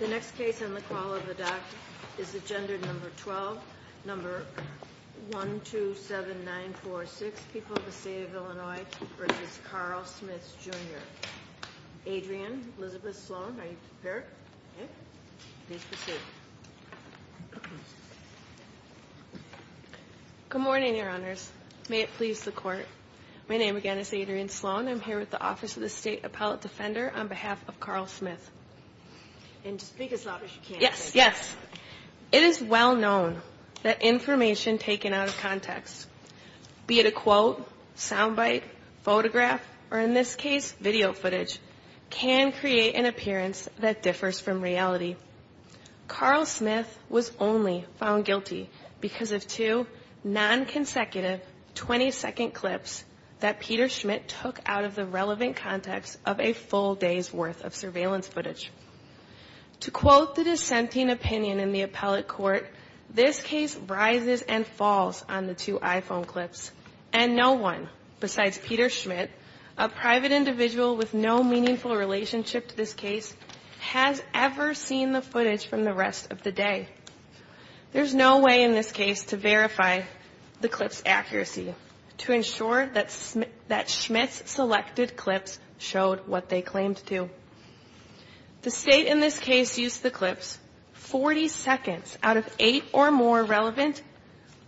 The next case on the call of the dock is agenda number 12, number 127946, People of the State of Illinois v. Carl Smith Jr. Adrienne Elizabeth Sloan, are you prepared? Please proceed. Good morning, your honors. May it please the court. My name again is Adrienne Sloan. I'm here with the Office of the State Appellate Defender on behalf of Carl Smith. And just speak as loud as you can. Yes, yes. It is well known that information taken out of context, be it a quote, sound bite, photograph, or in this case video footage, can create an appearance that differs from reality. Carl Smith was only found guilty because of two non-consecutive 20-second clips that Peter Schmidt took out of the relevant context of a full day's worth of surveillance footage. To quote the dissenting opinion in the appellate court, this case rises and falls on the two iPhone clips. And no one besides Peter Schmidt, a private individual with no meaningful relationship to this case, has ever seen the footage from the rest of the day. There's no way in this case to verify the clip's accuracy to ensure that Schmidt's selected clips showed what they claimed to. The State in this case used the clips, 40 seconds out of eight or more relevant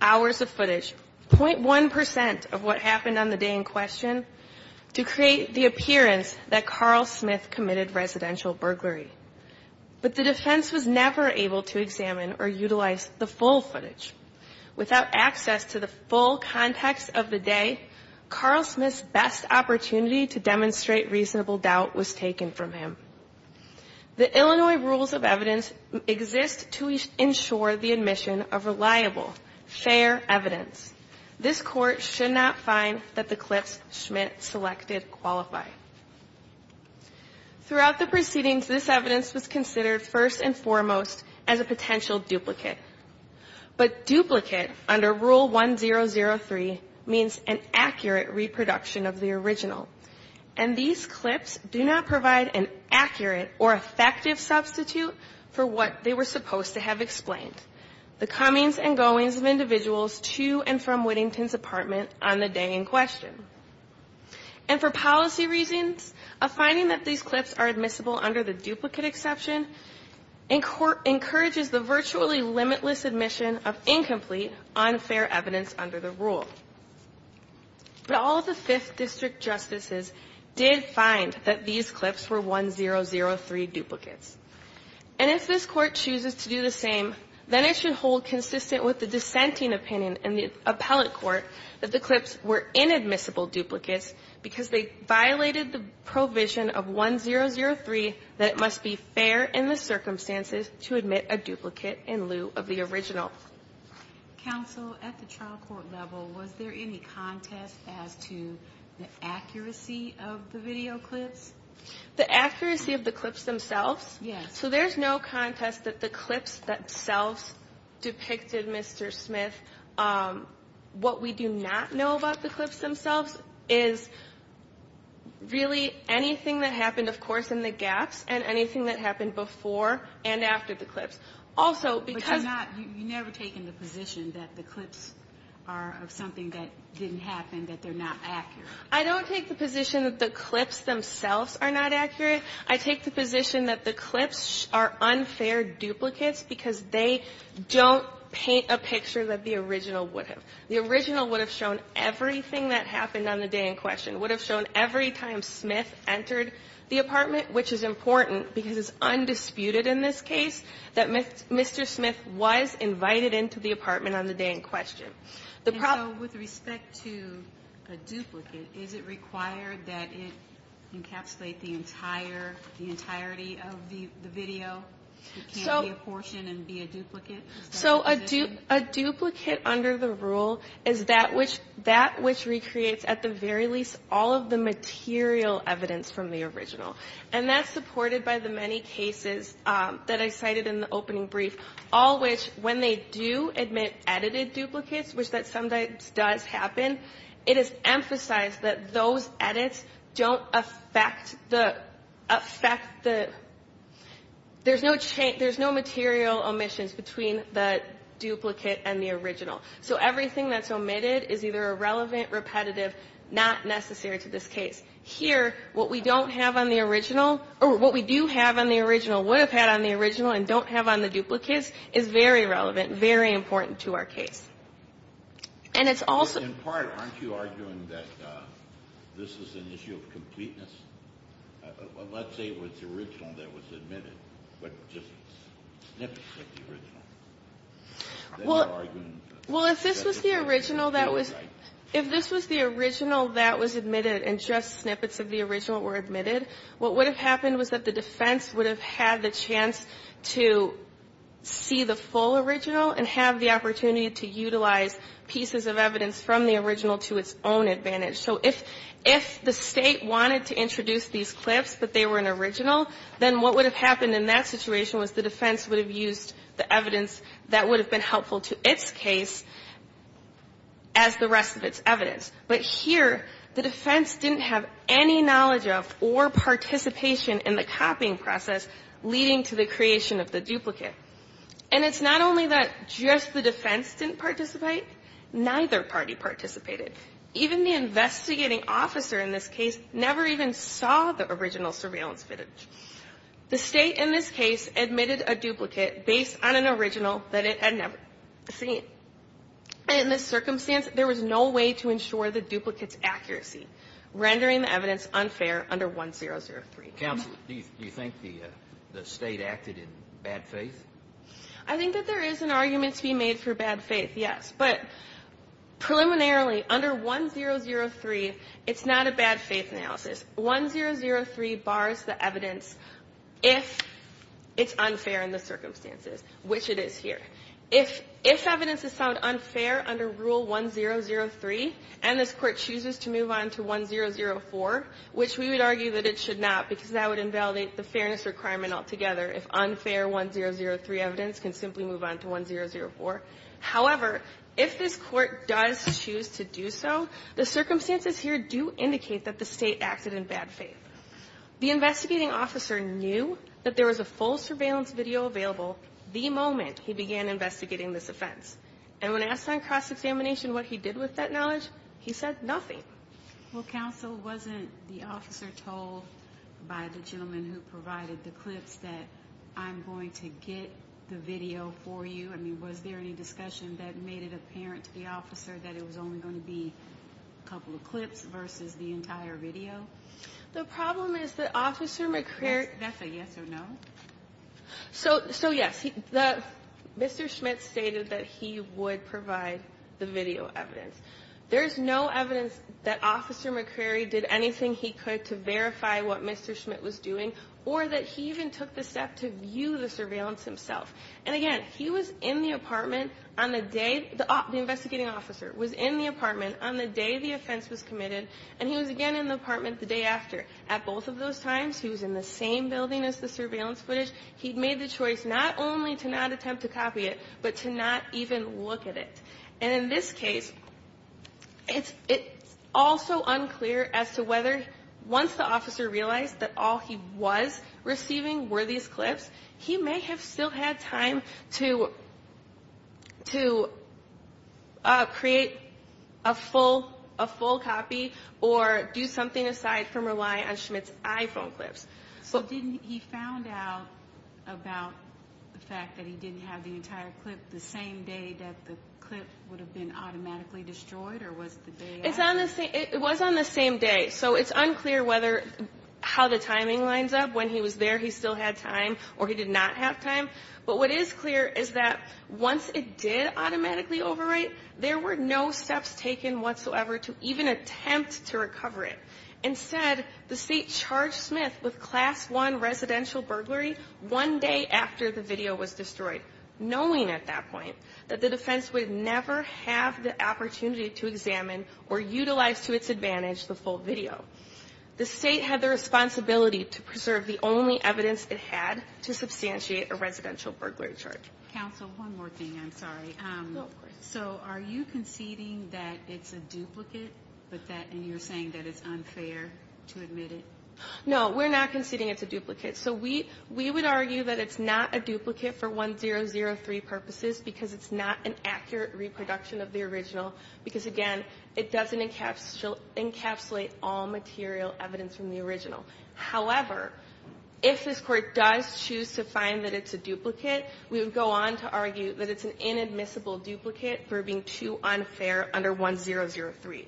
hours of footage, 0.1 percent of what happened on the day in question, to create the appearance that Carl Smith committed residential burglary. But the defense was never able to examine or utilize the full footage. Without access to the full context of the day, Carl Smith's best opportunity to demonstrate reasonable doubt was taken from him. The Illinois rules of evidence exist to ensure the admission of reliable, fair evidence. This court should not find that the clips Schmidt selected qualify. Throughout the proceedings, this evidence was considered first and foremost as a potential duplicate. But duplicate, under Rule 1003, means an accurate reproduction of the original. And these clips do not provide an accurate or effective substitute for what they were supposed to have explained, the comings and goings of individuals to and from Whittington's apartment on the day in question. And for policy reasons, a finding that these clips are admissible under the duplicate exception encourages the virtually limitless admission of incomplete, unfair evidence under the rule. But all of the Fifth District justices did find that these clips were 1003 duplicates. And if this court chooses to do the same, then it should hold consistent with the dissenting opinion in the appellate court that the clips were inadmissible duplicates because they violated the provision of 1003 that it must be fair in the circumstances to admit a duplicate in lieu of the original. Counsel, at the trial court level, was there any contest as to the accuracy of the video clips? The accuracy of the clips themselves? Yes. So there's no contest that the clips themselves depicted Mr. Smith. What we do not know about the clips themselves is really anything that happened, of course, in the gaps and anything that happened before and after the clips. Also, because... But you're not, you've never taken the position that the clips are of something that didn't happen, that they're not accurate. I don't take the position that the clips themselves are not accurate. I take the position that the clips are unfair duplicates because they don't paint a picture that the original would have. The original would have shown everything that happened on the day in question, would have shown every time Smith entered the apartment, which is important because it's undisputed in this case that Mr. Smith was invited into the apartment on the day in question. And so with respect to a duplicate, is it required that it encapsulate the entire, the entirety of the video? It can't be a portion and be a duplicate? So a duplicate under the rule is that which recreates at the very least all of the material evidence from the original. And that's supported by the many cases that I cited in the opening brief, all which, when they do admit edited duplicates, which that sometimes does happen, it is emphasized that those edits don't affect the, affect the... There's no material omissions between the duplicate and the original. So everything that's omitted is either irrelevant, repetitive, not necessary to this case. Here, what we don't have on the original, or what we do have on the original, would have had on the original and don't have on the duplicates, is very relevant, very important to our case. And it's also... In part, aren't you arguing that this is an issue of completeness? Let's say it was the original that was admitted, but just snippets of the original. Well, if this was the original that was... If this was the original that was admitted and just snippets of the original were admitted, what would have happened was that the defense would have had the chance to see the full original and have the opportunity to utilize pieces of evidence from the original to its own advantage. So if the State wanted to introduce these clips, but they were an original, then what would have happened in that situation was the defense would have used the evidence that would have been helpful to its case as the rest of its evidence. But here, the defense didn't have any knowledge of or participation in the copying process, leading to the creation of the duplicate. And it's not only that just the defense didn't participate. Neither party participated. Even the investigating officer in this case never even saw the original surveillance footage. The State in this case admitted a duplicate based on an original that it had never seen. And in this circumstance, there was no way to ensure the duplicate's accuracy, rendering the evidence unfair under 1003. Counsel, do you think the State acted in bad faith? I think that there is an argument to be made for bad faith, yes. But preliminarily, under 1003, it's not a bad faith analysis. 1003 bars the evidence if it's unfair in the circumstances, which it is here. If evidence is found unfair under Rule 1003, and this Court chooses to move on to 1004, which we would argue that it should not because that would invalidate the fairness requirement altogether if unfair 1003 evidence can simply move on to 1004. However, if this Court does choose to do so, the circumstances here do indicate that the State acted in bad faith. The investigating officer knew that there was a full surveillance video available the moment he began investigating this offense. And when asked on cross-examination what he did with that knowledge, he said nothing. Well, Counsel, wasn't the officer told by the gentleman who provided the clips that I'm going to get the video for you? I mean, was there any discussion that made it apparent to the officer that it was only going to be a couple of clips versus the entire video? The problem is that Officer McCreary That's a yes or no? So, yes, Mr. Schmidt stated that he would provide the video evidence. There is no evidence that Officer McCreary did anything he could to verify what Mr. Schmidt was doing or that he even took the step to view the surveillance himself. And again, he was in the apartment on the day the investigating officer was in the apartment on the day the offense was committed, and he was again in the apartment the day after. At both of those times, he was in the same building as the surveillance footage. He made the choice not only to not attempt to copy it, but to not even look at it. And in this case, it's also unclear as to whether once the officer realized that all he was receiving were these clips, he may have still had time to create a full copy or do something aside from rely on Schmidt's iPhone clips. So didn't he found out about the fact that he didn't have the entire clip the same day that the clip would have been automatically destroyed, or was it the day after? It was on the same day. So it's unclear how the timing lines up. When he was there, he still had time, or he did not have time. But what is clear is that once it did automatically overwrite, there were no steps taken whatsoever to even attempt to recover it. Instead, the State charged Schmidt with Class I residential burglary one day after the video was destroyed, knowing at that point that the defense would never have the opportunity to examine or utilize to its advantage the full video. The State had the responsibility to preserve the only evidence it had to substantiate a residential burglary charge. Counsel, one more thing. I'm sorry. So are you conceding that it's a duplicate, and you're saying that it's unfair to admit it? No, we're not conceding it's a duplicate. So we would argue that it's not a duplicate for 1003 purposes because it's not an accurate reproduction of the original because, again, it doesn't encapsulate all material evidence from the original. However, if this Court does choose to find that it's a duplicate, we would go on to argue that it's an inadmissible duplicate for being too unfair under 1003.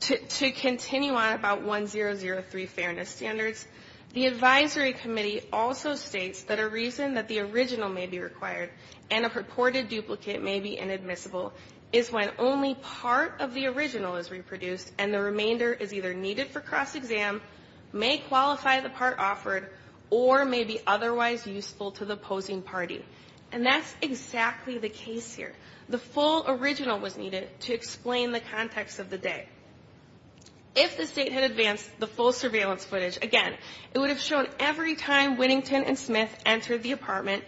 To continue on about 1003 fairness standards, the advisory committee also states that a reason that the original may be required and a purported duplicate may be inadmissible is when only part of the original is reproduced and the remainder is either needed for cross-exam, may qualify the part offered, or may be otherwise useful to the opposing party. And that's exactly the case here. The full original was needed to explain the context of the day. If the State had advanced the full surveillance footage, again, it would have shown every time Whittington and Smith entered the apartment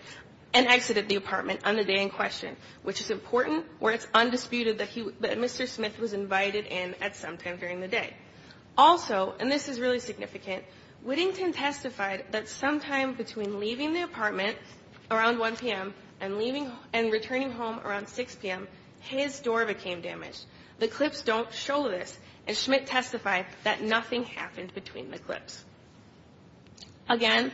and exited the apartment on the day in question, which is important where it's undisputed that Mr. Smith was invited in at some time during the day. Also, and this is really significant, Whittington testified that sometime between leaving the apartment around 1 p.m. and returning home around 6 p.m., his door became damaged. The clips don't show this, and Schmidt testified that nothing happened between the clips. Again,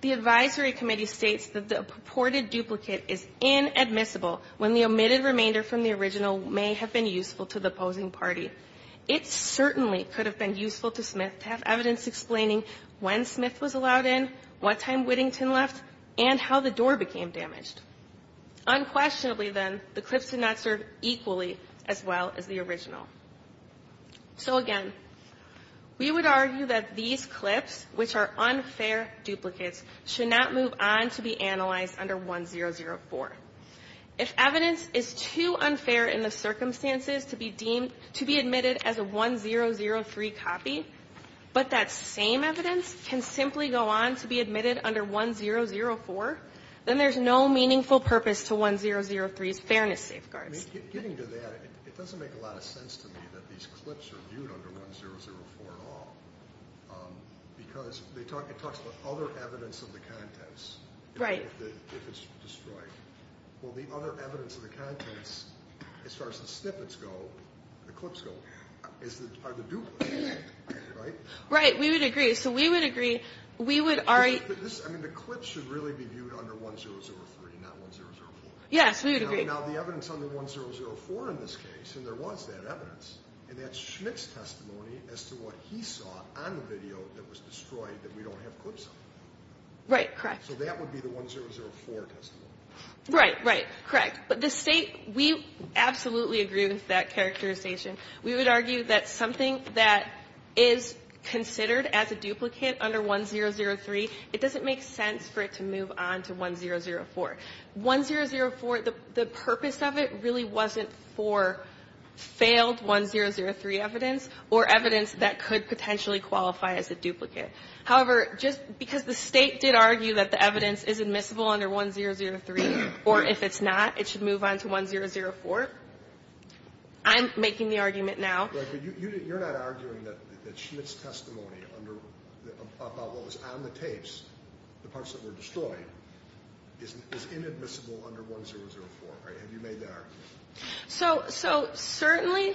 the advisory committee states that the purported duplicate is inadmissible when the omitted remainder from the original may have been useful to the opposing party. It certainly could have been useful to Smith to have evidence explaining when Smith was allowed in, what time Whittington left, and how the door became damaged. Unquestionably, then, the clips did not serve equally as well as the original. So, again, we would argue that these clips, which are unfair duplicates, should not move on to be analyzed under 1004. If evidence is too unfair in the circumstances to be deemed to be admitted as a 1003 copy, but that same evidence can simply go on to be admitted under 1004, then there's no meaningful purpose to 1003's fairness safeguards. I mean, getting to that, it doesn't make a lot of sense to me that these clips are viewed under 1004 at all. Because it talks about other evidence of the contents. Right. If it's destroyed. Well, the other evidence of the contents, as far as the snippets go, the clips go, are the duplicates. Right? We would agree. So we would agree. We would argue. I mean, the clips should really be viewed under 1003, not 1004. Yes, we would agree. Now, the evidence under 1004 in this case, and there was that evidence, and that's Schmidt's testimony as to what he saw on the video that was destroyed that we don't have clips on. Right, correct. So that would be the 1004 testimony. Right, right, correct. But the State, we absolutely agree with that characterization. We would argue that something that is considered as a duplicate under 1003, it doesn't make sense for it to move on to 1004. 1004, the purpose of it really wasn't for failed 1003 evidence or evidence that could potentially qualify as a duplicate. However, just because the State did argue that the evidence is admissible under 1003, or if it's not, it should move on to 1004, I'm making the argument now. Right. But you're not arguing that Schmidt's testimony about what was on the tapes, the parts that were destroyed, is inadmissible under 1004, right? Have you made that argument? So certainly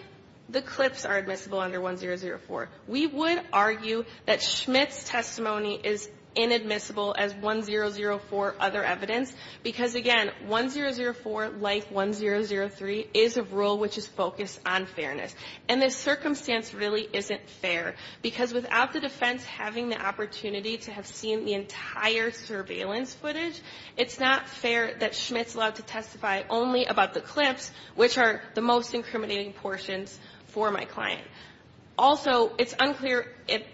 the clips are admissible under 1004. We would argue that Schmidt's testimony is inadmissible as 1004 other evidence because, again, 1004, like 1003, is a rule which is focused on fairness. And this circumstance really isn't fair because without the defense having the opportunity to have seen the entire surveillance footage, it's not fair that Schmidt's allowed to testify only about the clips, which are the most incriminating portions for my client. Also, it's unclear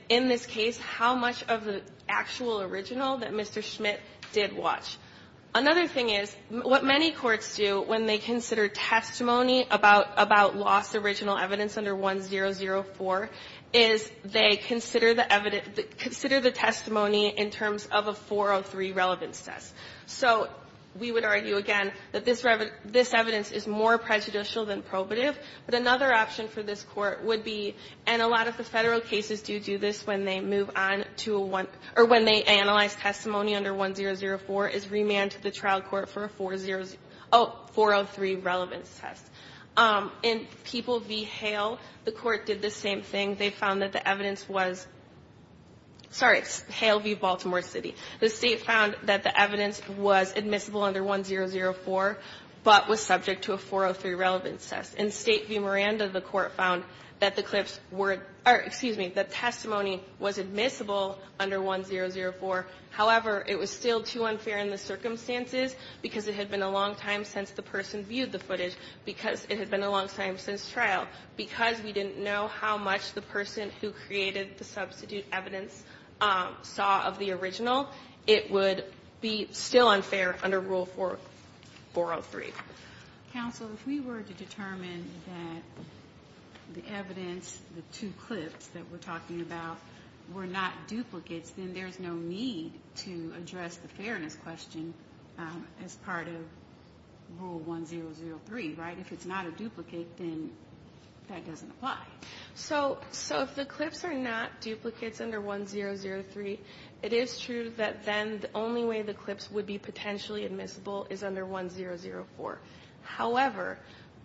in this case how much of the actual original that Mr. Schmidt did watch. Another thing is, what many courts do when they consider testimony about lost original evidence under 1004 is they consider the testimony in terms of a 403 relevance test. So we would argue, again, that this evidence is more prejudicial than probative. But another option for this Court would be, and a lot of the Federal cases do do this when they move on to a one or when they remand to the trial court for a 403 relevance test. In People v. Hale, the Court did the same thing. They found that the evidence was — sorry, it's Hale v. Baltimore City. The State found that the evidence was admissible under 1004, but was subject to a 403 relevance test. In State v. Miranda, the Court found that the clips were — or, excuse me, the testimony was admissible under 1004. However, it was still too unfair in the circumstances because it had been a long time since the person viewed the footage, because it had been a long time since trial. Because we didn't know how much the person who created the substitute evidence saw of the original, it would be still unfair under Rule 403. Counsel, if we were to determine that the evidence, the two clips that we're talking about, were not duplicates, then there's no need to address the fairness question as part of Rule 1003, right? If it's not a duplicate, then that doesn't apply. So if the clips are not duplicates under 1003, it is true that then the only way the clips would be potentially admissible is under 1004. However,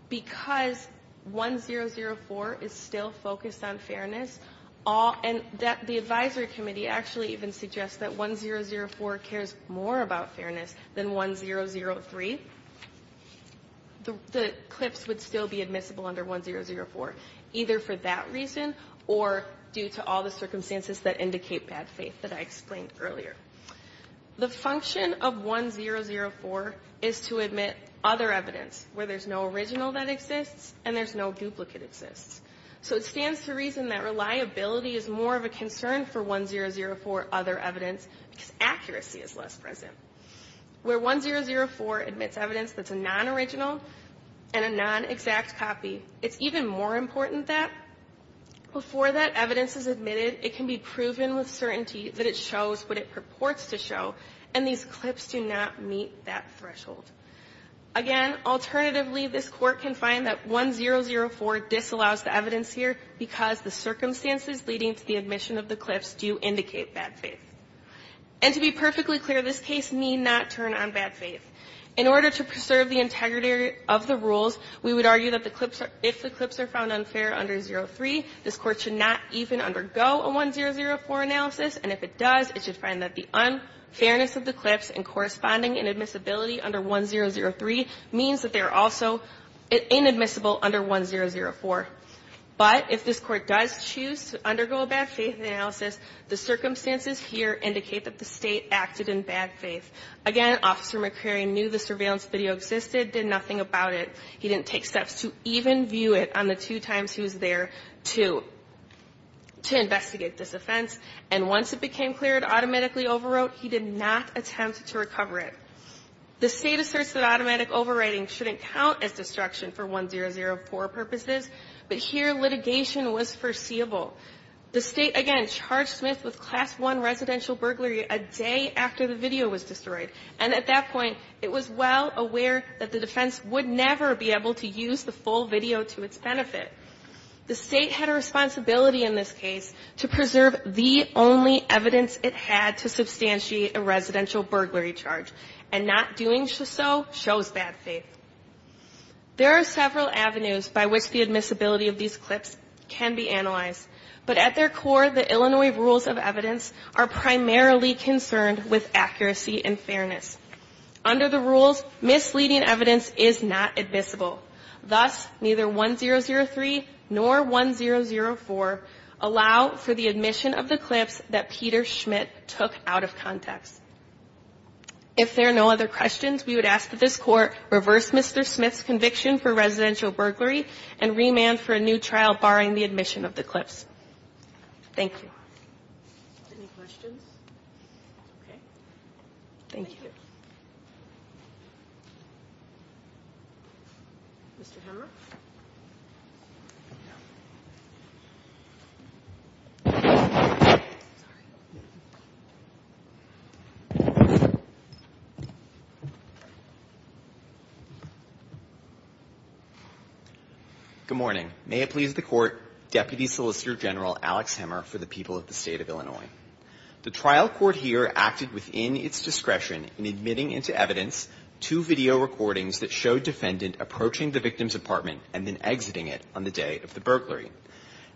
because 1004 is still focused on fairness, and the advisory committee actually even suggests that 1004 cares more about fairness than 1003, the clips would still be admissible under 1004, either for that reason or due to all the circumstances that indicate bad faith that I explained earlier. The function of 1004 is to admit other evidence where there's no original that exists and there's no duplicate exists. So it stands to reason that reliability is more of a concern for 1004 other evidence because accuracy is less present. Where 1004 admits evidence that's a non-original and a non-exact copy, it's even more important that before that evidence is admitted, it can be proven with certainty that it shows what it purports to show, and these clips do not meet that threshold. Again, alternatively, this Court can find that 1004 disallows the evidence here because the circumstances leading to the admission of the clips do indicate bad faith. And to be perfectly clear, this case need not turn on bad faith. In order to preserve the integrity of the rules, we would argue that the clips are – if the clips are found unfair under 003, this Court should not even undergo a 1004 analysis, and if it does, it should find that the unfairness of the clips and corresponding inadmissibility under 1003 means that they are also inadmissible under 1004. But if this Court does choose to undergo a bad faith analysis, the circumstances here indicate that the State acted in bad faith. Again, Officer McCrary knew the surveillance video existed, did nothing about it. He didn't take steps to even view it on the two times he was there to investigate this offense, and once it became clear it automatically overwrote, he did not attempt to recover it. The State asserts that automatic overwriting shouldn't count as destruction for 1004 purposes, but here litigation was foreseeable. The State, again, charged Smith with Class I residential burglary a day after the video was destroyed, and at that point it was well aware that the defense would never be able to use the full video to its benefit. The State had a responsibility in this case to preserve the only evidence it had to substantiate a residential burglary charge, and not doing so shows bad faith. There are several avenues by which the admissibility of these clips can be analyzed, but at their core, the Illinois rules of evidence are primarily concerned with accuracy and fairness. Under the rules, misleading evidence is not admissible. Thus, neither 1003 nor 1004 allow for the admission of the clips that Peter Schmidt took out of context. If there are no other questions, we would ask that this Court reverse Mr. Smith's conviction for residential burglary and remand for a new trial barring the admission of the clips. Thank you. Any questions? Okay. Thank you. Mr. Hemmer? Good morning. May it please the Court, Deputy Solicitor General Alex Hemmer for the people of the State of Illinois. The trial court here acted within its discretion in admitting into evidence two video recordings that showed defendant approaching the victim's apartment. and then exiting it on the day of the burglary.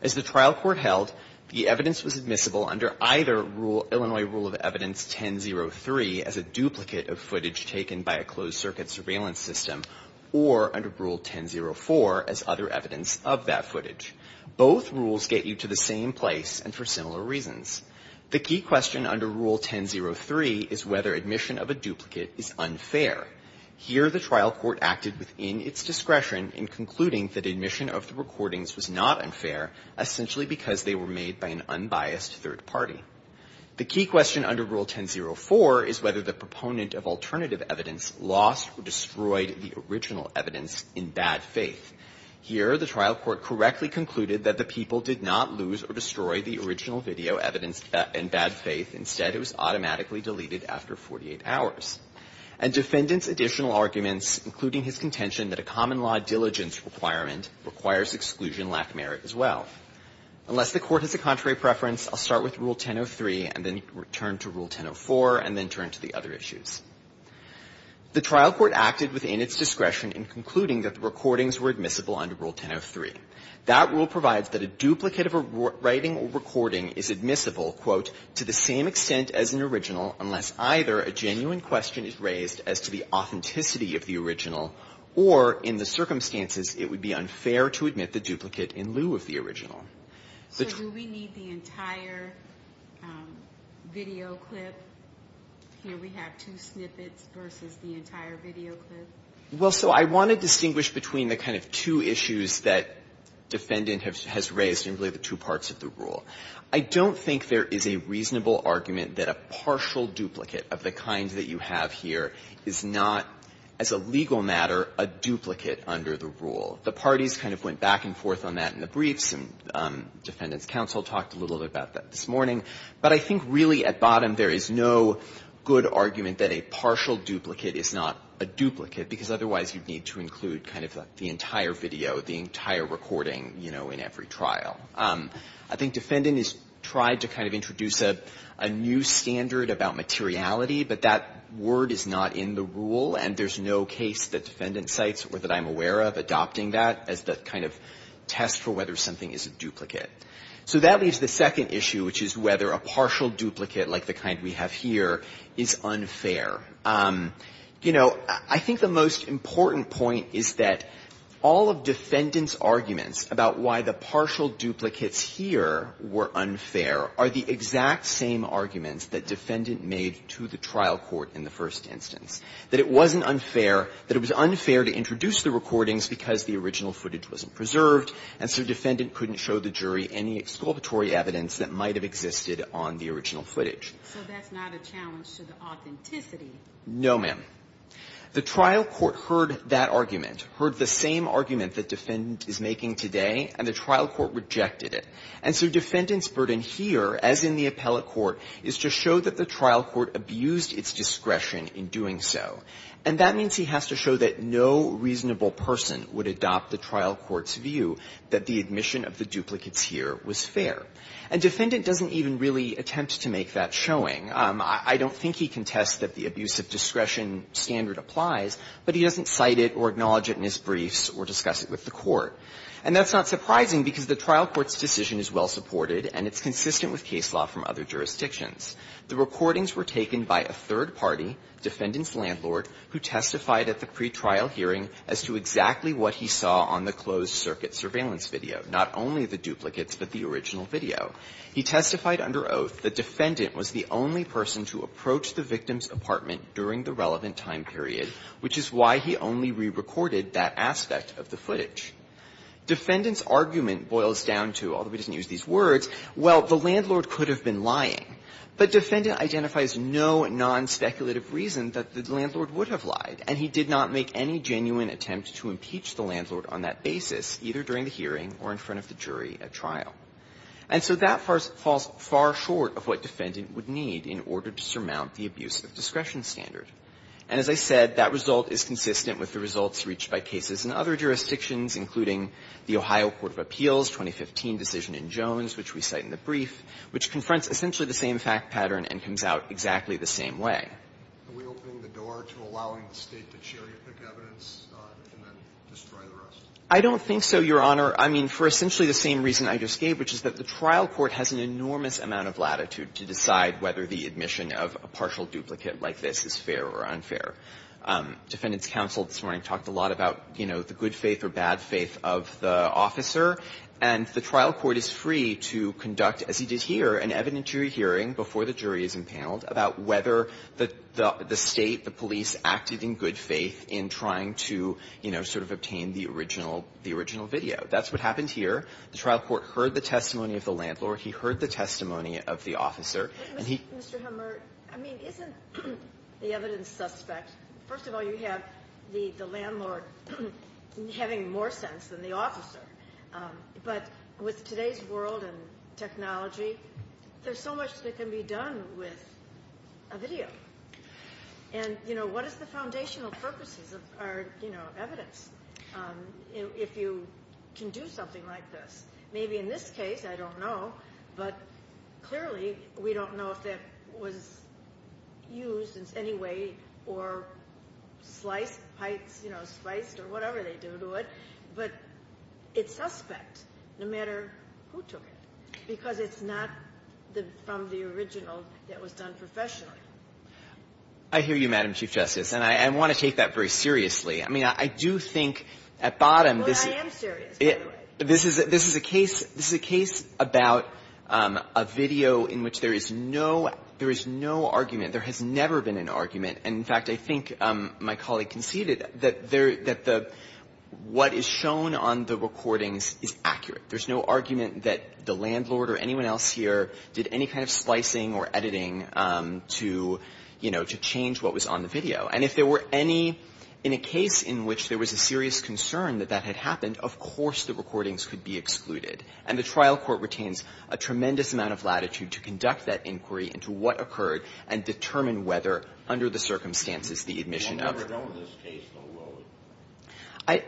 As the trial court held, the evidence was admissible under either Illinois rule of evidence 1003 as a duplicate of footage taken by a closed circuit surveillance system, or under rule 1004 as other evidence of that footage. Both rules get you to the same place and for similar reasons. The key question under rule 1003 is whether admission of a duplicate is unfair. Here, the trial court acted within its discretion in concluding that admission of the recordings was not unfair, essentially because they were made by an unbiased third party. The key question under rule 1004 is whether the proponent of alternative evidence lost or destroyed the original evidence in bad faith. Here, the trial court correctly concluded that the people did not lose or destroy the original video evidence in bad faith. Instead, it was automatically deleted after 48 hours. And defendant's additional arguments, including his contention that a common law diligence requirement requires exclusion lack merit as well. Unless the Court has a contrary preference, I'll start with rule 1003 and then return to rule 1004 and then turn to the other issues. The trial court acted within its discretion in concluding that the recordings were admissible under rule 1003. That rule provides that a duplicate of a writing or recording is admissible, quote, to the same extent as an original unless either a genuine question is raised as to the authenticity of the original or in the circumstances it would be unfair to admit the duplicate in lieu of the original. So do we need the entire video clip? Here we have two snippets versus the entire video clip. Well, so I want to distinguish between the kind of two issues that defendant has raised in really the two parts of the rule. I don't think there is a reasonable argument that a partial duplicate of the kind that you have here is not, as a legal matter, a duplicate under the rule. The parties kind of went back and forth on that in the briefs, and defendants' counsel talked a little bit about that this morning. But I think really at bottom there is no good argument that a partial duplicate is not a duplicate, because otherwise you'd need to include kind of the entire video, the entire recording, you know, in every trial. I think defendant has tried to kind of introduce a new standard about materiality, but that word is not in the rule, and there's no case that defendant cites or that I'm aware of adopting that as the kind of test for whether something is a duplicate. So that leaves the second issue, which is whether a partial duplicate like the kind we have here is unfair. You know, I think the most important point is that all of defendant's arguments about why the partial duplicates here were unfair are the exact same arguments that defendant made to the trial court in the first instance, that it wasn't unfair, that it was unfair to introduce the recordings because the original footage wasn't preserved, and so defendant couldn't show the jury any exculpatory evidence that might have existed on the original footage. No, ma'am. I think the most important point here is that the trial court rejected the argument that the defendant is making today, and the trial court rejected it. And so defendant's burden here, as in the appellate court, is to show that the trial court abused its discretion in doing so, and that means he has to show that no reasonable person would adopt the trial court's view that the admission of the duplicates here was fair. And defendant doesn't even really attempt to make that showing. I don't think he contests that the abuse of discretion standard applies, but he doesn't cite it or acknowledge it in his briefs or discuss it with the court. And that's not surprising because the trial court's decision is well-supported and it's consistent with case law from other jurisdictions. The recordings were taken by a third party, defendant's landlord, who testified at the pretrial hearing as to exactly what he saw on the closed circuit surveillance video, not only the duplicates but the original video. He testified under oath that defendant was the only person to approach the victim's apartment during the relevant time period, which is why he only re-recorded that aspect of the footage. Defendant's argument boils down to, although he doesn't use these words, well, the landlord could have been lying, but defendant identifies no nonspeculative reason that the landlord would have lied, and he did not make any genuine attempt to impeach the landlord on that basis, either during the hearing or in front of the jury at trial. And so that falls far short of what defendant would need in order to surmount the abuse of discretion standard. And as I said, that result is consistent with the results reached by cases in other jurisdictions, including the Ohio Court of Appeals' 2015 decision in Jones, which we cite in the brief, which confronts essentially the same fact pattern and comes out exactly the same way. I don't think so, Your Honor. I mean, for essentially the same reason I just gave, which is that the trial court has an enormous amount of latitude to decide whether the admission of a partial duplicate like this is fair or unfair. Defendant's counsel this morning talked a lot about, you know, the good faith or bad faith of the officer, and the trial court is free to conduct, as he did here, an evidentiary hearing before the jury is impaneled about whether the State, the police, acted in good faith in trying to, you know, sort of obtain the original video. That's what happened here. The trial court heard the testimony of the landlord. He heard the testimony of the officer. And he -- Ginsburg-Mr. Hemmert, I mean, isn't the evidence suspect? First of all, you have the landlord having more sense than the officer. But with today's world and technology, there's so much that can be done with a video. And, you know, what is the foundational purposes of our, you know, evidence? If you can do something like this. Maybe in this case, I don't know, but clearly, we don't know if that was used in any way or sliced, you know, spiced, or whatever they do to it. But it's suspect, no matter who took it, because it's not from the original that was done professionally. Hemmert, I hear you, Madam Chief Justice, and I want to take that very seriously. I mean, I do think at bottom this is ‑‑ Ginsburg-But I am serious, by the way. Hemmert, this is a case about a video in which there is no argument. There has never been an argument. And, in fact, I think my colleague conceded that what is shown on the recordings is accurate. There's no argument that the landlord or anyone else here did any kind of slicing or editing to, you know, to change what was on the video. And if there were any ‑‑ in a case in which there was a serious concern that that had happened, of course the recordings could be excluded. And the trial court retains a tremendous amount of latitude to conduct that inquiry into what occurred and determine whether, under the circumstances, the admission of ‑‑ Kennedy,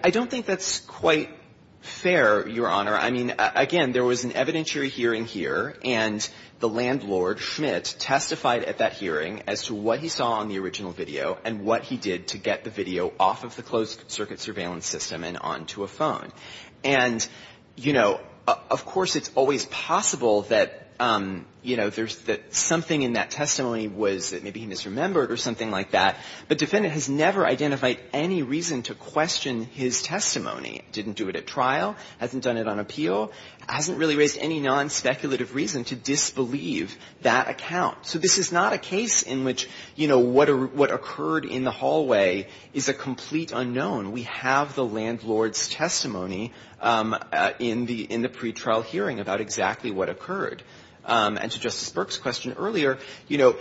I don't think that's quite fair, Your Honor. I mean, again, there was an evidentiary hearing here, and the landlord, Schmitt, testified at that hearing as to what he saw on the original video and what he did to get the video off of the closed circuit surveillance system and onto a phone. And, you know, of course it's always possible that, you know, there's something in that testimony was that maybe he misremembered or something like that. The defendant has never identified any reason to question his testimony, didn't do it at trial, hasn't done it on appeal, hasn't really raised any nonspeculative reason to disbelieve that account. So this is not a case in which, you know, what occurred in the hallway is a complete unknown. We have the landlord's testimony in the pretrial hearing about exactly what occurred. And to Justice Burke's question earlier, you know,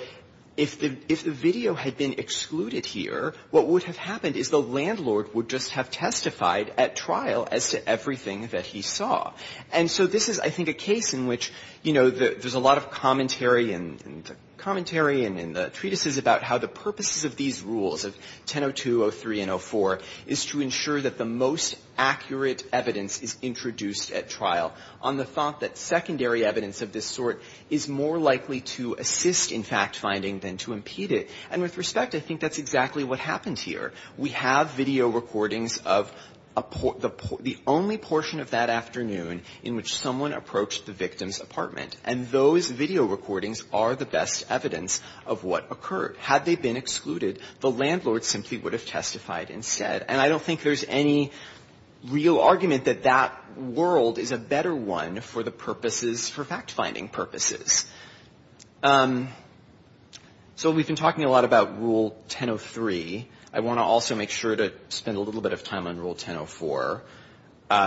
if the video had been excluded here, what would have happened is the landlord would just have testified at trial as to everything that he saw. And so this is, I think, a case in which, you know, there's a lot of commentary and commentary in the treatises about how the purposes of these rules, of 1002, 03, and 04, is to ensure that the most accurate evidence is introduced at trial on the thought that secondary evidence of this sort is more likely to assist in fact finding than to impede it. And with respect, I think that's exactly what happened here. We have video recordings of the only portion of that afternoon in which someone approached the victim's apartment, and those video recordings are the best evidence of what occurred. Had they been excluded, the landlord simply would have testified instead. And I don't think there's any real argument that that world is a better one for the purposes, for fact-finding purposes. So we've been talking a lot about Rule 1003. I want to also make sure to spend a little bit of time on Rule 1004. Rule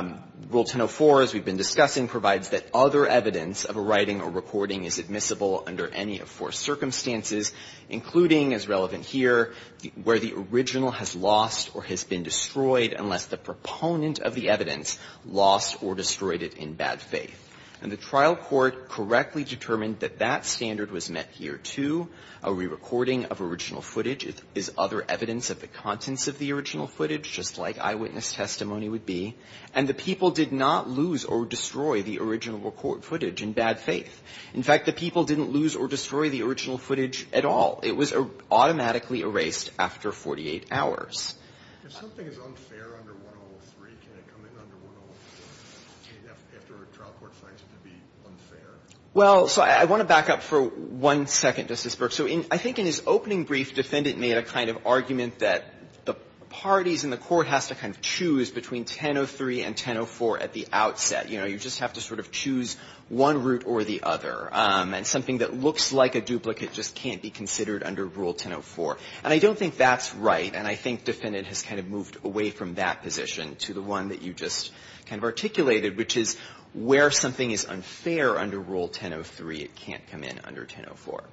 1004, as we've been discussing, provides that other evidence of a writing or recording is admissible under any of four circumstances, including, as relevant here, where the original has lost or has been destroyed unless the proponent of the evidence lost or destroyed it in bad faith. And the trial court correctly determined that that standard was met here, too. A rerecording of original footage is other evidence of the contents of the original footage, just like eyewitness testimony would be. And the people did not lose or destroy the original record footage in bad faith. In fact, the people didn't lose or destroy the original footage at all. It was automatically erased after 48 hours. If something is unfair under 1003, can it come in under 1004, after a trial court finds it to be unfair? Well, so I want to back up for one second, Justice Berk. So I think in his opening brief, Defendant made a kind of argument that the parties in the court has to kind of choose between 1003 and 1004 at the outset. You know, you just have to sort of choose one route or the other. And something that looks like a duplicate just can't be considered under Rule 1004. And I don't think that's right. And I think Defendant has kind of moved away from that position to the one that you just kind of articulated, which is where something is unfair under Rule 1003, it can't come in under 1004.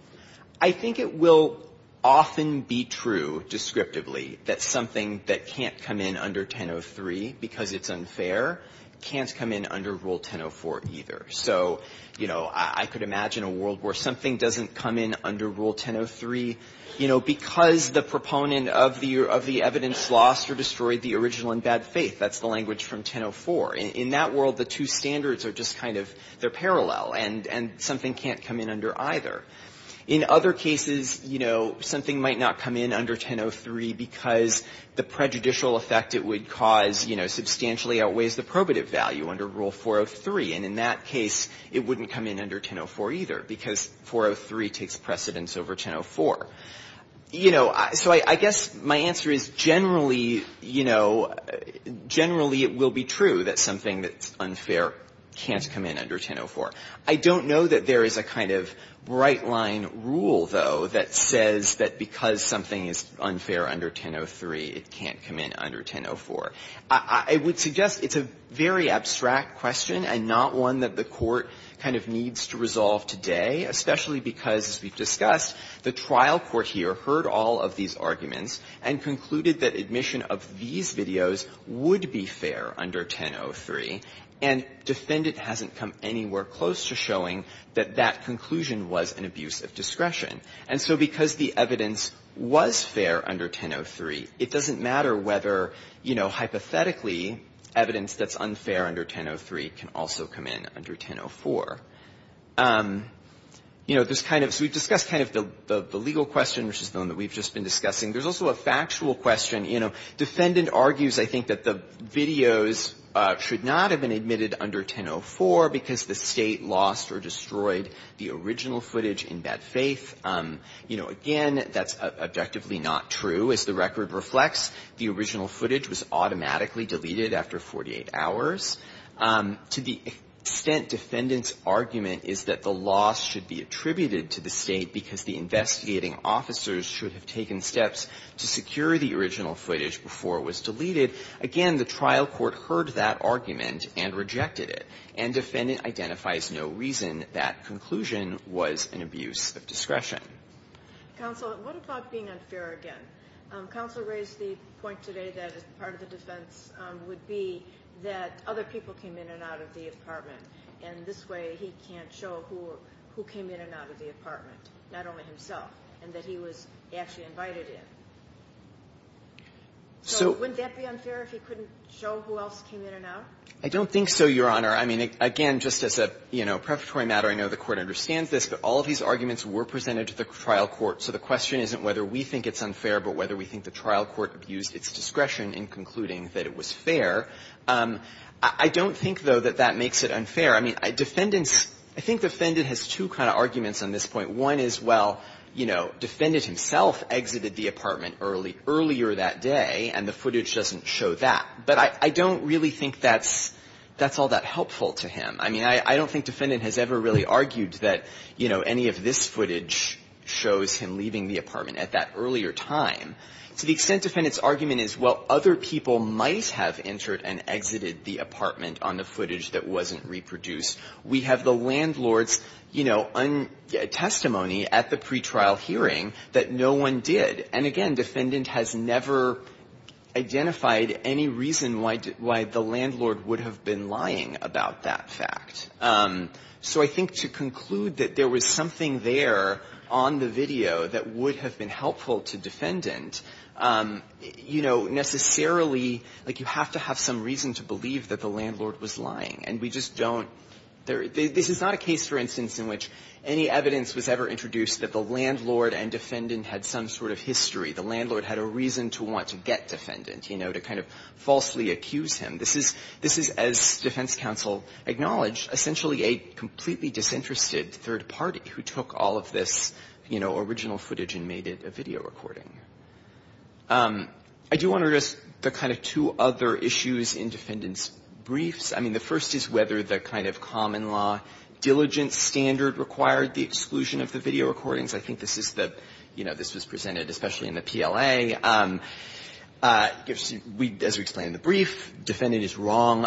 I think it will often be true descriptively that something that can't come in under 1003 because it's unfair can't come in under Rule 1004 either. So, you know, I could imagine a world where something doesn't come in under Rule 1003, you know, because the proponent of the evidence lost or destroyed the original in bad faith. That's the language from 1004. In that world, the two standards are just kind of, they're parallel. And something can't come in under either. In other cases, you know, something might not come in under 1003 because the prejudicial effect it would cause, you know, substantially outweighs the probative value under Rule 403. And in that case, it wouldn't come in under 1004 either because 403 takes precedence over 1004. You know, so I guess my answer is generally, you know, generally it will be true that something that's unfair can't come in under 1004. I don't know that there is a kind of right-line rule, though, that says that because something is unfair under 1003, it can't come in under 1004. I would suggest it's a very abstract question and not one that the Court kind of needs to resolve today, especially because, as we've discussed, the trial court here heard all of these arguments and concluded that admission of these videos would be fair under 1003, and defendant hasn't come anywhere close to showing that that conclusion was an abuse of discretion. And so because the evidence was fair under 1003, it doesn't matter whether, you know, there's kind of — so we've discussed kind of the legal question, which is the one that we've just been discussing. There's also a factual question. You know, defendant argues, I think, that the videos should not have been admitted under 1004 because the State lost or destroyed the original footage in bad faith. You know, again, that's objectively not true. As the record reflects, the original footage was automatically deleted after 48 hours. To the extent defendant's argument is that the loss should be attributed to the State because the investigating officers should have taken steps to secure the original footage before it was deleted, again, the trial court heard that argument and rejected it. And defendant identifies no reason that conclusion was an abuse of discretion. Counsel, what about being unfair again? Counsel raised the point today that part of the defense would be that other people came in and out of the apartment, and this way he can't show who came in and out of the apartment, not only himself, and that he was actually invited in. So wouldn't that be unfair if he couldn't show who else came in and out? I don't think so, Your Honor. I mean, again, just as a, you know, preparatory matter, I know the Court understands this, but all of these arguments were presented to the trial court. So the question isn't whether we think it's unfair, but whether we think the trial court abused its discretion in concluding that it was fair. I don't think, though, that that makes it unfair. I mean, defendants – I think defendant has two kind of arguments on this point. One is, well, you know, defendant himself exited the apartment early – earlier that day, and the footage doesn't show that. But I don't really think that's – that's all that helpful to him. I mean, I don't think defendant has ever really argued that, you know, any of this footage shows him leaving the apartment at that earlier time, to the extent defendant's argument is, well, other people might have entered and exited the apartment on the footage that wasn't reproduced. We have the landlord's, you know, testimony at the pretrial hearing that no one did. And again, defendant has never identified any reason why the landlord would have been lying about that fact. So I think to conclude that there was something there on the video that would have been helpful to defendant, you know, necessarily, like, you have to have some reason to believe that the landlord was lying. And we just don't – this is not a case, for instance, in which any evidence was ever introduced that the landlord and defendant had some sort of history. The landlord had a reason to want to get defendant, you know, to kind of falsely accuse him. This is – this is, as defense counsel acknowledged, essentially a completely disinterested third party who took all of this, you know, original footage and made it a video recording. I do want to address the kind of two other issues in defendant's briefs. I mean, the first is whether the kind of common-law diligence standard required the exclusion of the video recordings. I think this is the – you know, this was presented especially in the PLA. As we explained in the brief, defendant is wrong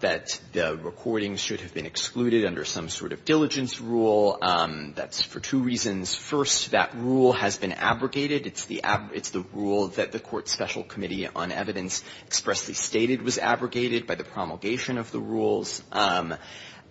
that the recordings should have been excluded under some sort of diligence rule. That's for two reasons. First, that rule has been abrogated. It's the – it's the rule that the Court's Special Committee on Evidence expressly stated was abrogated by the promulgation of the rules.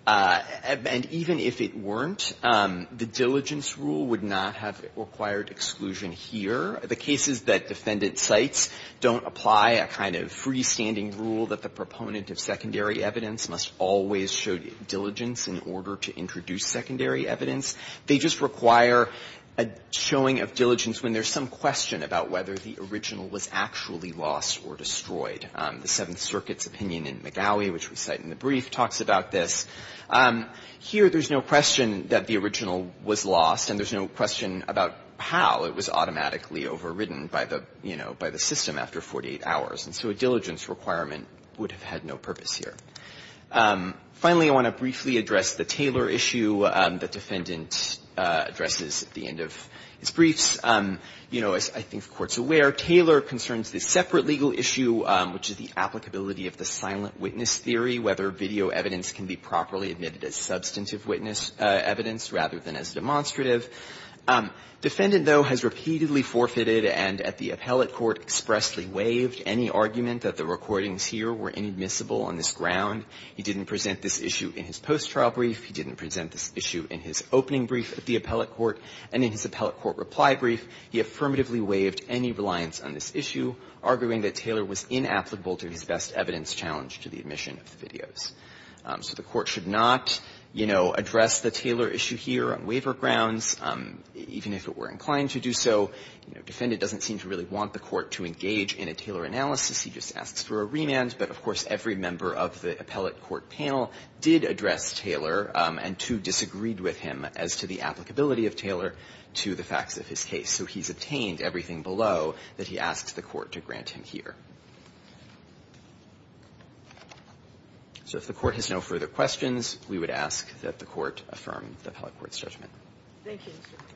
And even if it weren't, the diligence rule would not have required exclusion here. The cases that defendant cites don't apply a kind of freestanding rule that the proponent of secondary evidence must always show diligence in order to introduce secondary evidence. They just require a showing of diligence when there's some question about whether the original was actually lost or destroyed. The Seventh Circuit's opinion in McGaughy, which we cite in the brief, talks about this. Here, there's no question that the original was lost, and there's no question about how it was automatically overridden by the, you know, by the system after 48 hours. And so a diligence requirement would have had no purpose here. Finally, I want to briefly address the Taylor issue that defendant addresses at the end of his briefs. You know, as I think the Court's aware, Taylor concerns the separate legal issue, which is the applicability of the silent witness theory, whether video evidence can be properly admitted as substantive witness evidence rather than as demonstrative. Defendant, though, has repeatedly forfeited and at the appellate court expressly waived any argument that the recordings here were inadmissible on this ground. He didn't present this issue in his post-trial brief. He didn't present this issue in his opening brief at the appellate court and in his appellate court reply brief. He affirmatively waived any reliance on this issue, arguing that Taylor was inapplicable to his best evidence challenge to the admission of the videos. So the Court should not, you know, address the Taylor issue here on waiver grounds, even if it were inclined to do so. You know, defendant doesn't seem to really want the Court to engage in a Taylor analysis. He just asks for a remand. But, of course, every member of the appellate court panel did address Taylor and, too, disagreed with him as to the applicability of Taylor to the facts of his case. So he's obtained everything below that he asks the Court to grant him here. So if the Court has no further questions, we would ask that the Court affirm the appellate court's judgment. Thank you, Mr. Carroll.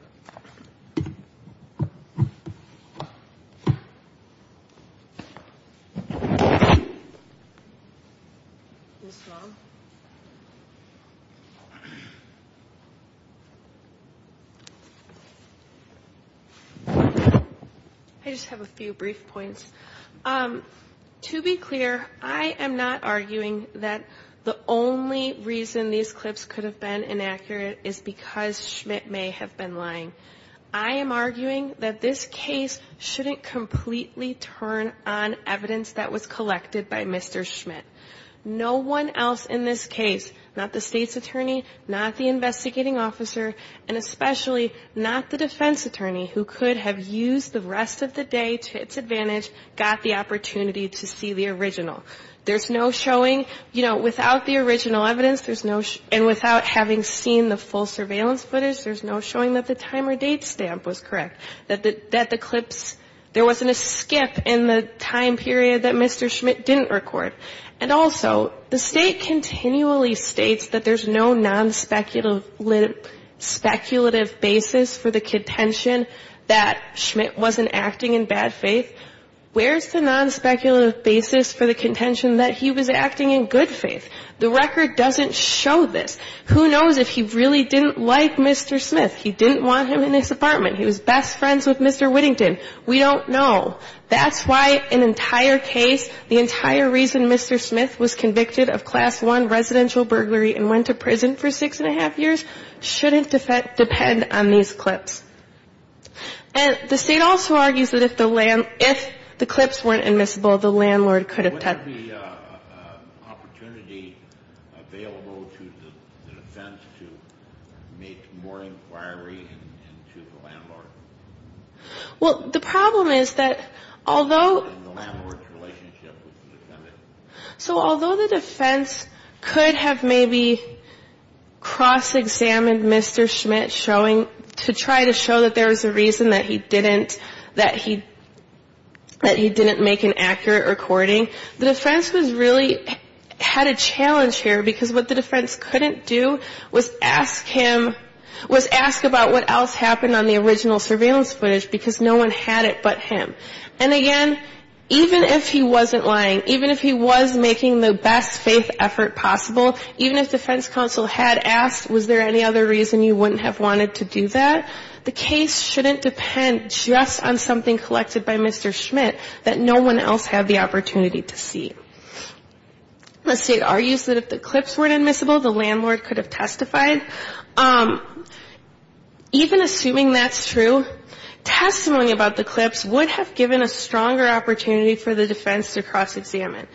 I just have a few brief points. To be clear, I am not arguing that the only reason these clips could have been inaccurate is because Schmidt may have been lying. I am arguing that this case shouldn't completely turn on evidence that was collected by Mr. Schmidt. No one else in this case, not the State's attorney, not the investigating officer, and especially not the defense attorney, who could have used the rest of the day to its advantage, got the opportunity to see the original. There's no showing, you know, without the original evidence, there's no, and without having seen the full surveillance footage, there's no showing that the time or date stamp was correct, that the clips, there wasn't a skip in the time period that Mr. Schmidt didn't record. And also, the State continually states that there's no non-speculative basis for the contention that Schmidt wasn't acting in bad faith. Where's the non-speculative basis for the contention that he was acting in good faith? The record doesn't show this. Who knows if he really didn't like Mr. Schmidt, he didn't want him in his apartment, he was best friends with Mr. Whittington. We don't know. That's why an entire case, the entire reason Mr. Schmidt was convicted of Class I residential burglary and went to prison for six and a half years, shouldn't depend on these clips. And the State also argues that if the clips weren't admissible, the landlord could have had the opportunity available to the defense to make more inquiry into the landlord. Well, the problem is that although, so although the defense could have maybe cross examined Mr. Schmidt showing, to try to show that there was a reason that he didn't, that he, that he didn't make an accurate recording, the defense was really, had a challenge here because what the defense couldn't do was ask him, was ask about what else happened on the original surveillance footage because no one had it but him. And again, even if he wasn't lying, even if he was making the best faith effort possible, even if defense counsel had asked, was there any other reason you wouldn't have wanted to do that, the case shouldn't depend just on something collected by Mr. Schmidt that no one else had the opportunity to see. The State argues that if the clips weren't admissible, the landlord could have testified. Even assuming that's true, testimony about the clips would have given a stronger opportunity for the defense to cross examine.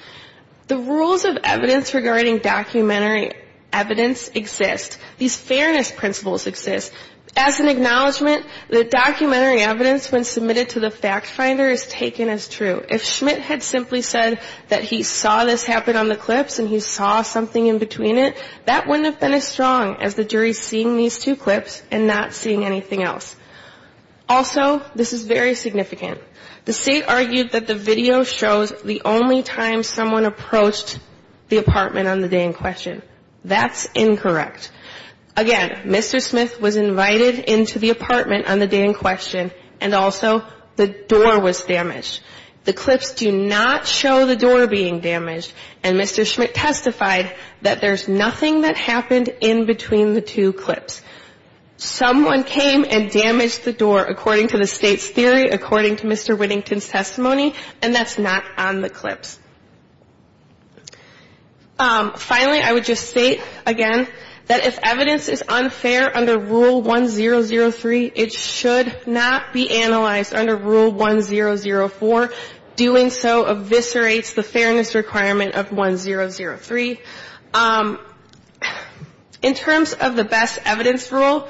The rules of evidence regarding documentary evidence exist. These fairness principles exist. As an acknowledgement, the documentary evidence when submitted to the fact finder is taken as true. If Schmidt had simply said that he saw this happen on the clips and he saw something in between it, that wouldn't have been as strong as the jury seeing these two clips and not seeing anything else. Also, this is very significant. The State argued that the video shows the only time someone approached the apartment on the day in question. That's incorrect. Again, Mr. Smith was invited into the apartment on the day in question. And also, the door was damaged. The clips do not show the door being damaged. And Mr. Schmidt testified that there's nothing that happened in between the two clips. Someone came and damaged the door, according to the State's theory, according to Mr. Whittington's testimony, and that's not on the clips. Finally, I would just state again that if evidence is unfair under Rule 1003, it should not be analyzed under Rule 1004. Doing so eviscerates the fairness requirement of 1003. In terms of the best evidence rule,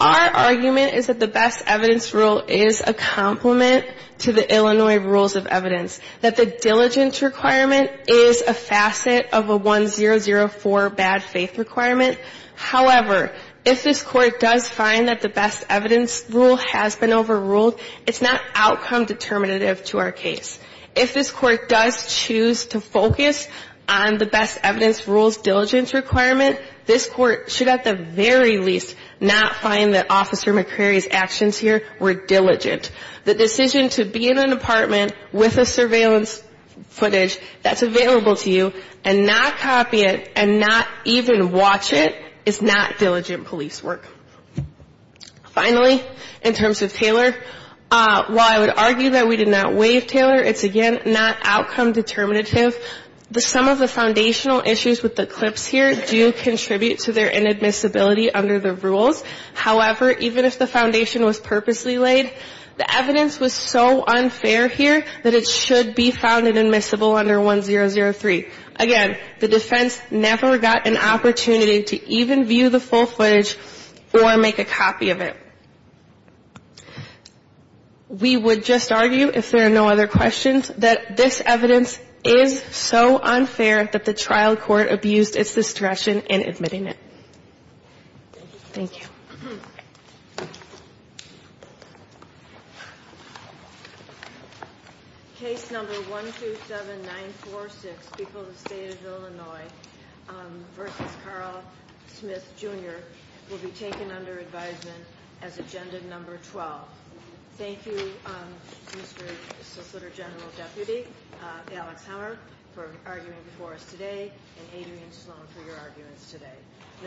our argument is that the best evidence rule is a complement to the Illinois rules of evidence, that the diligence requirement is a facet of a 1004 bad faith requirement. However, if this Court does find that the best evidence rule has been overruled, it's not outcome determinative to our case. If this Court does choose to focus on the best evidence rule's diligence requirement, this Court should at the very least not find that Officer McCrary's actions here were diligent. The decision to be in an apartment with a surveillance footage that's available to you and not copy it and not even watch it is not diligent police work. Finally, in terms of Taylor, while I would argue that we did not waive Taylor, it's again not outcome determinative. Some of the foundational issues with the clips here do contribute to their inadmissibility under the rules. However, even if the foundation was purposely laid, the evidence was so unfair here that it should be found inadmissible under 1003. Again, the defense never got an opportunity to even view the full footage or make a copy of it. We would just argue, if there are no other questions, that this evidence is so unfair that the trial court abused its discretion in admitting it. Thank you. Case number 127946, People of the State of Illinois, versus Carl Smith, Jr., will be taken under advisement as agenda number 12. Thank you, Mr. Solicitor General Deputy Alex Hammer, for arguing before us today, and Adrian Sloan for your arguments today.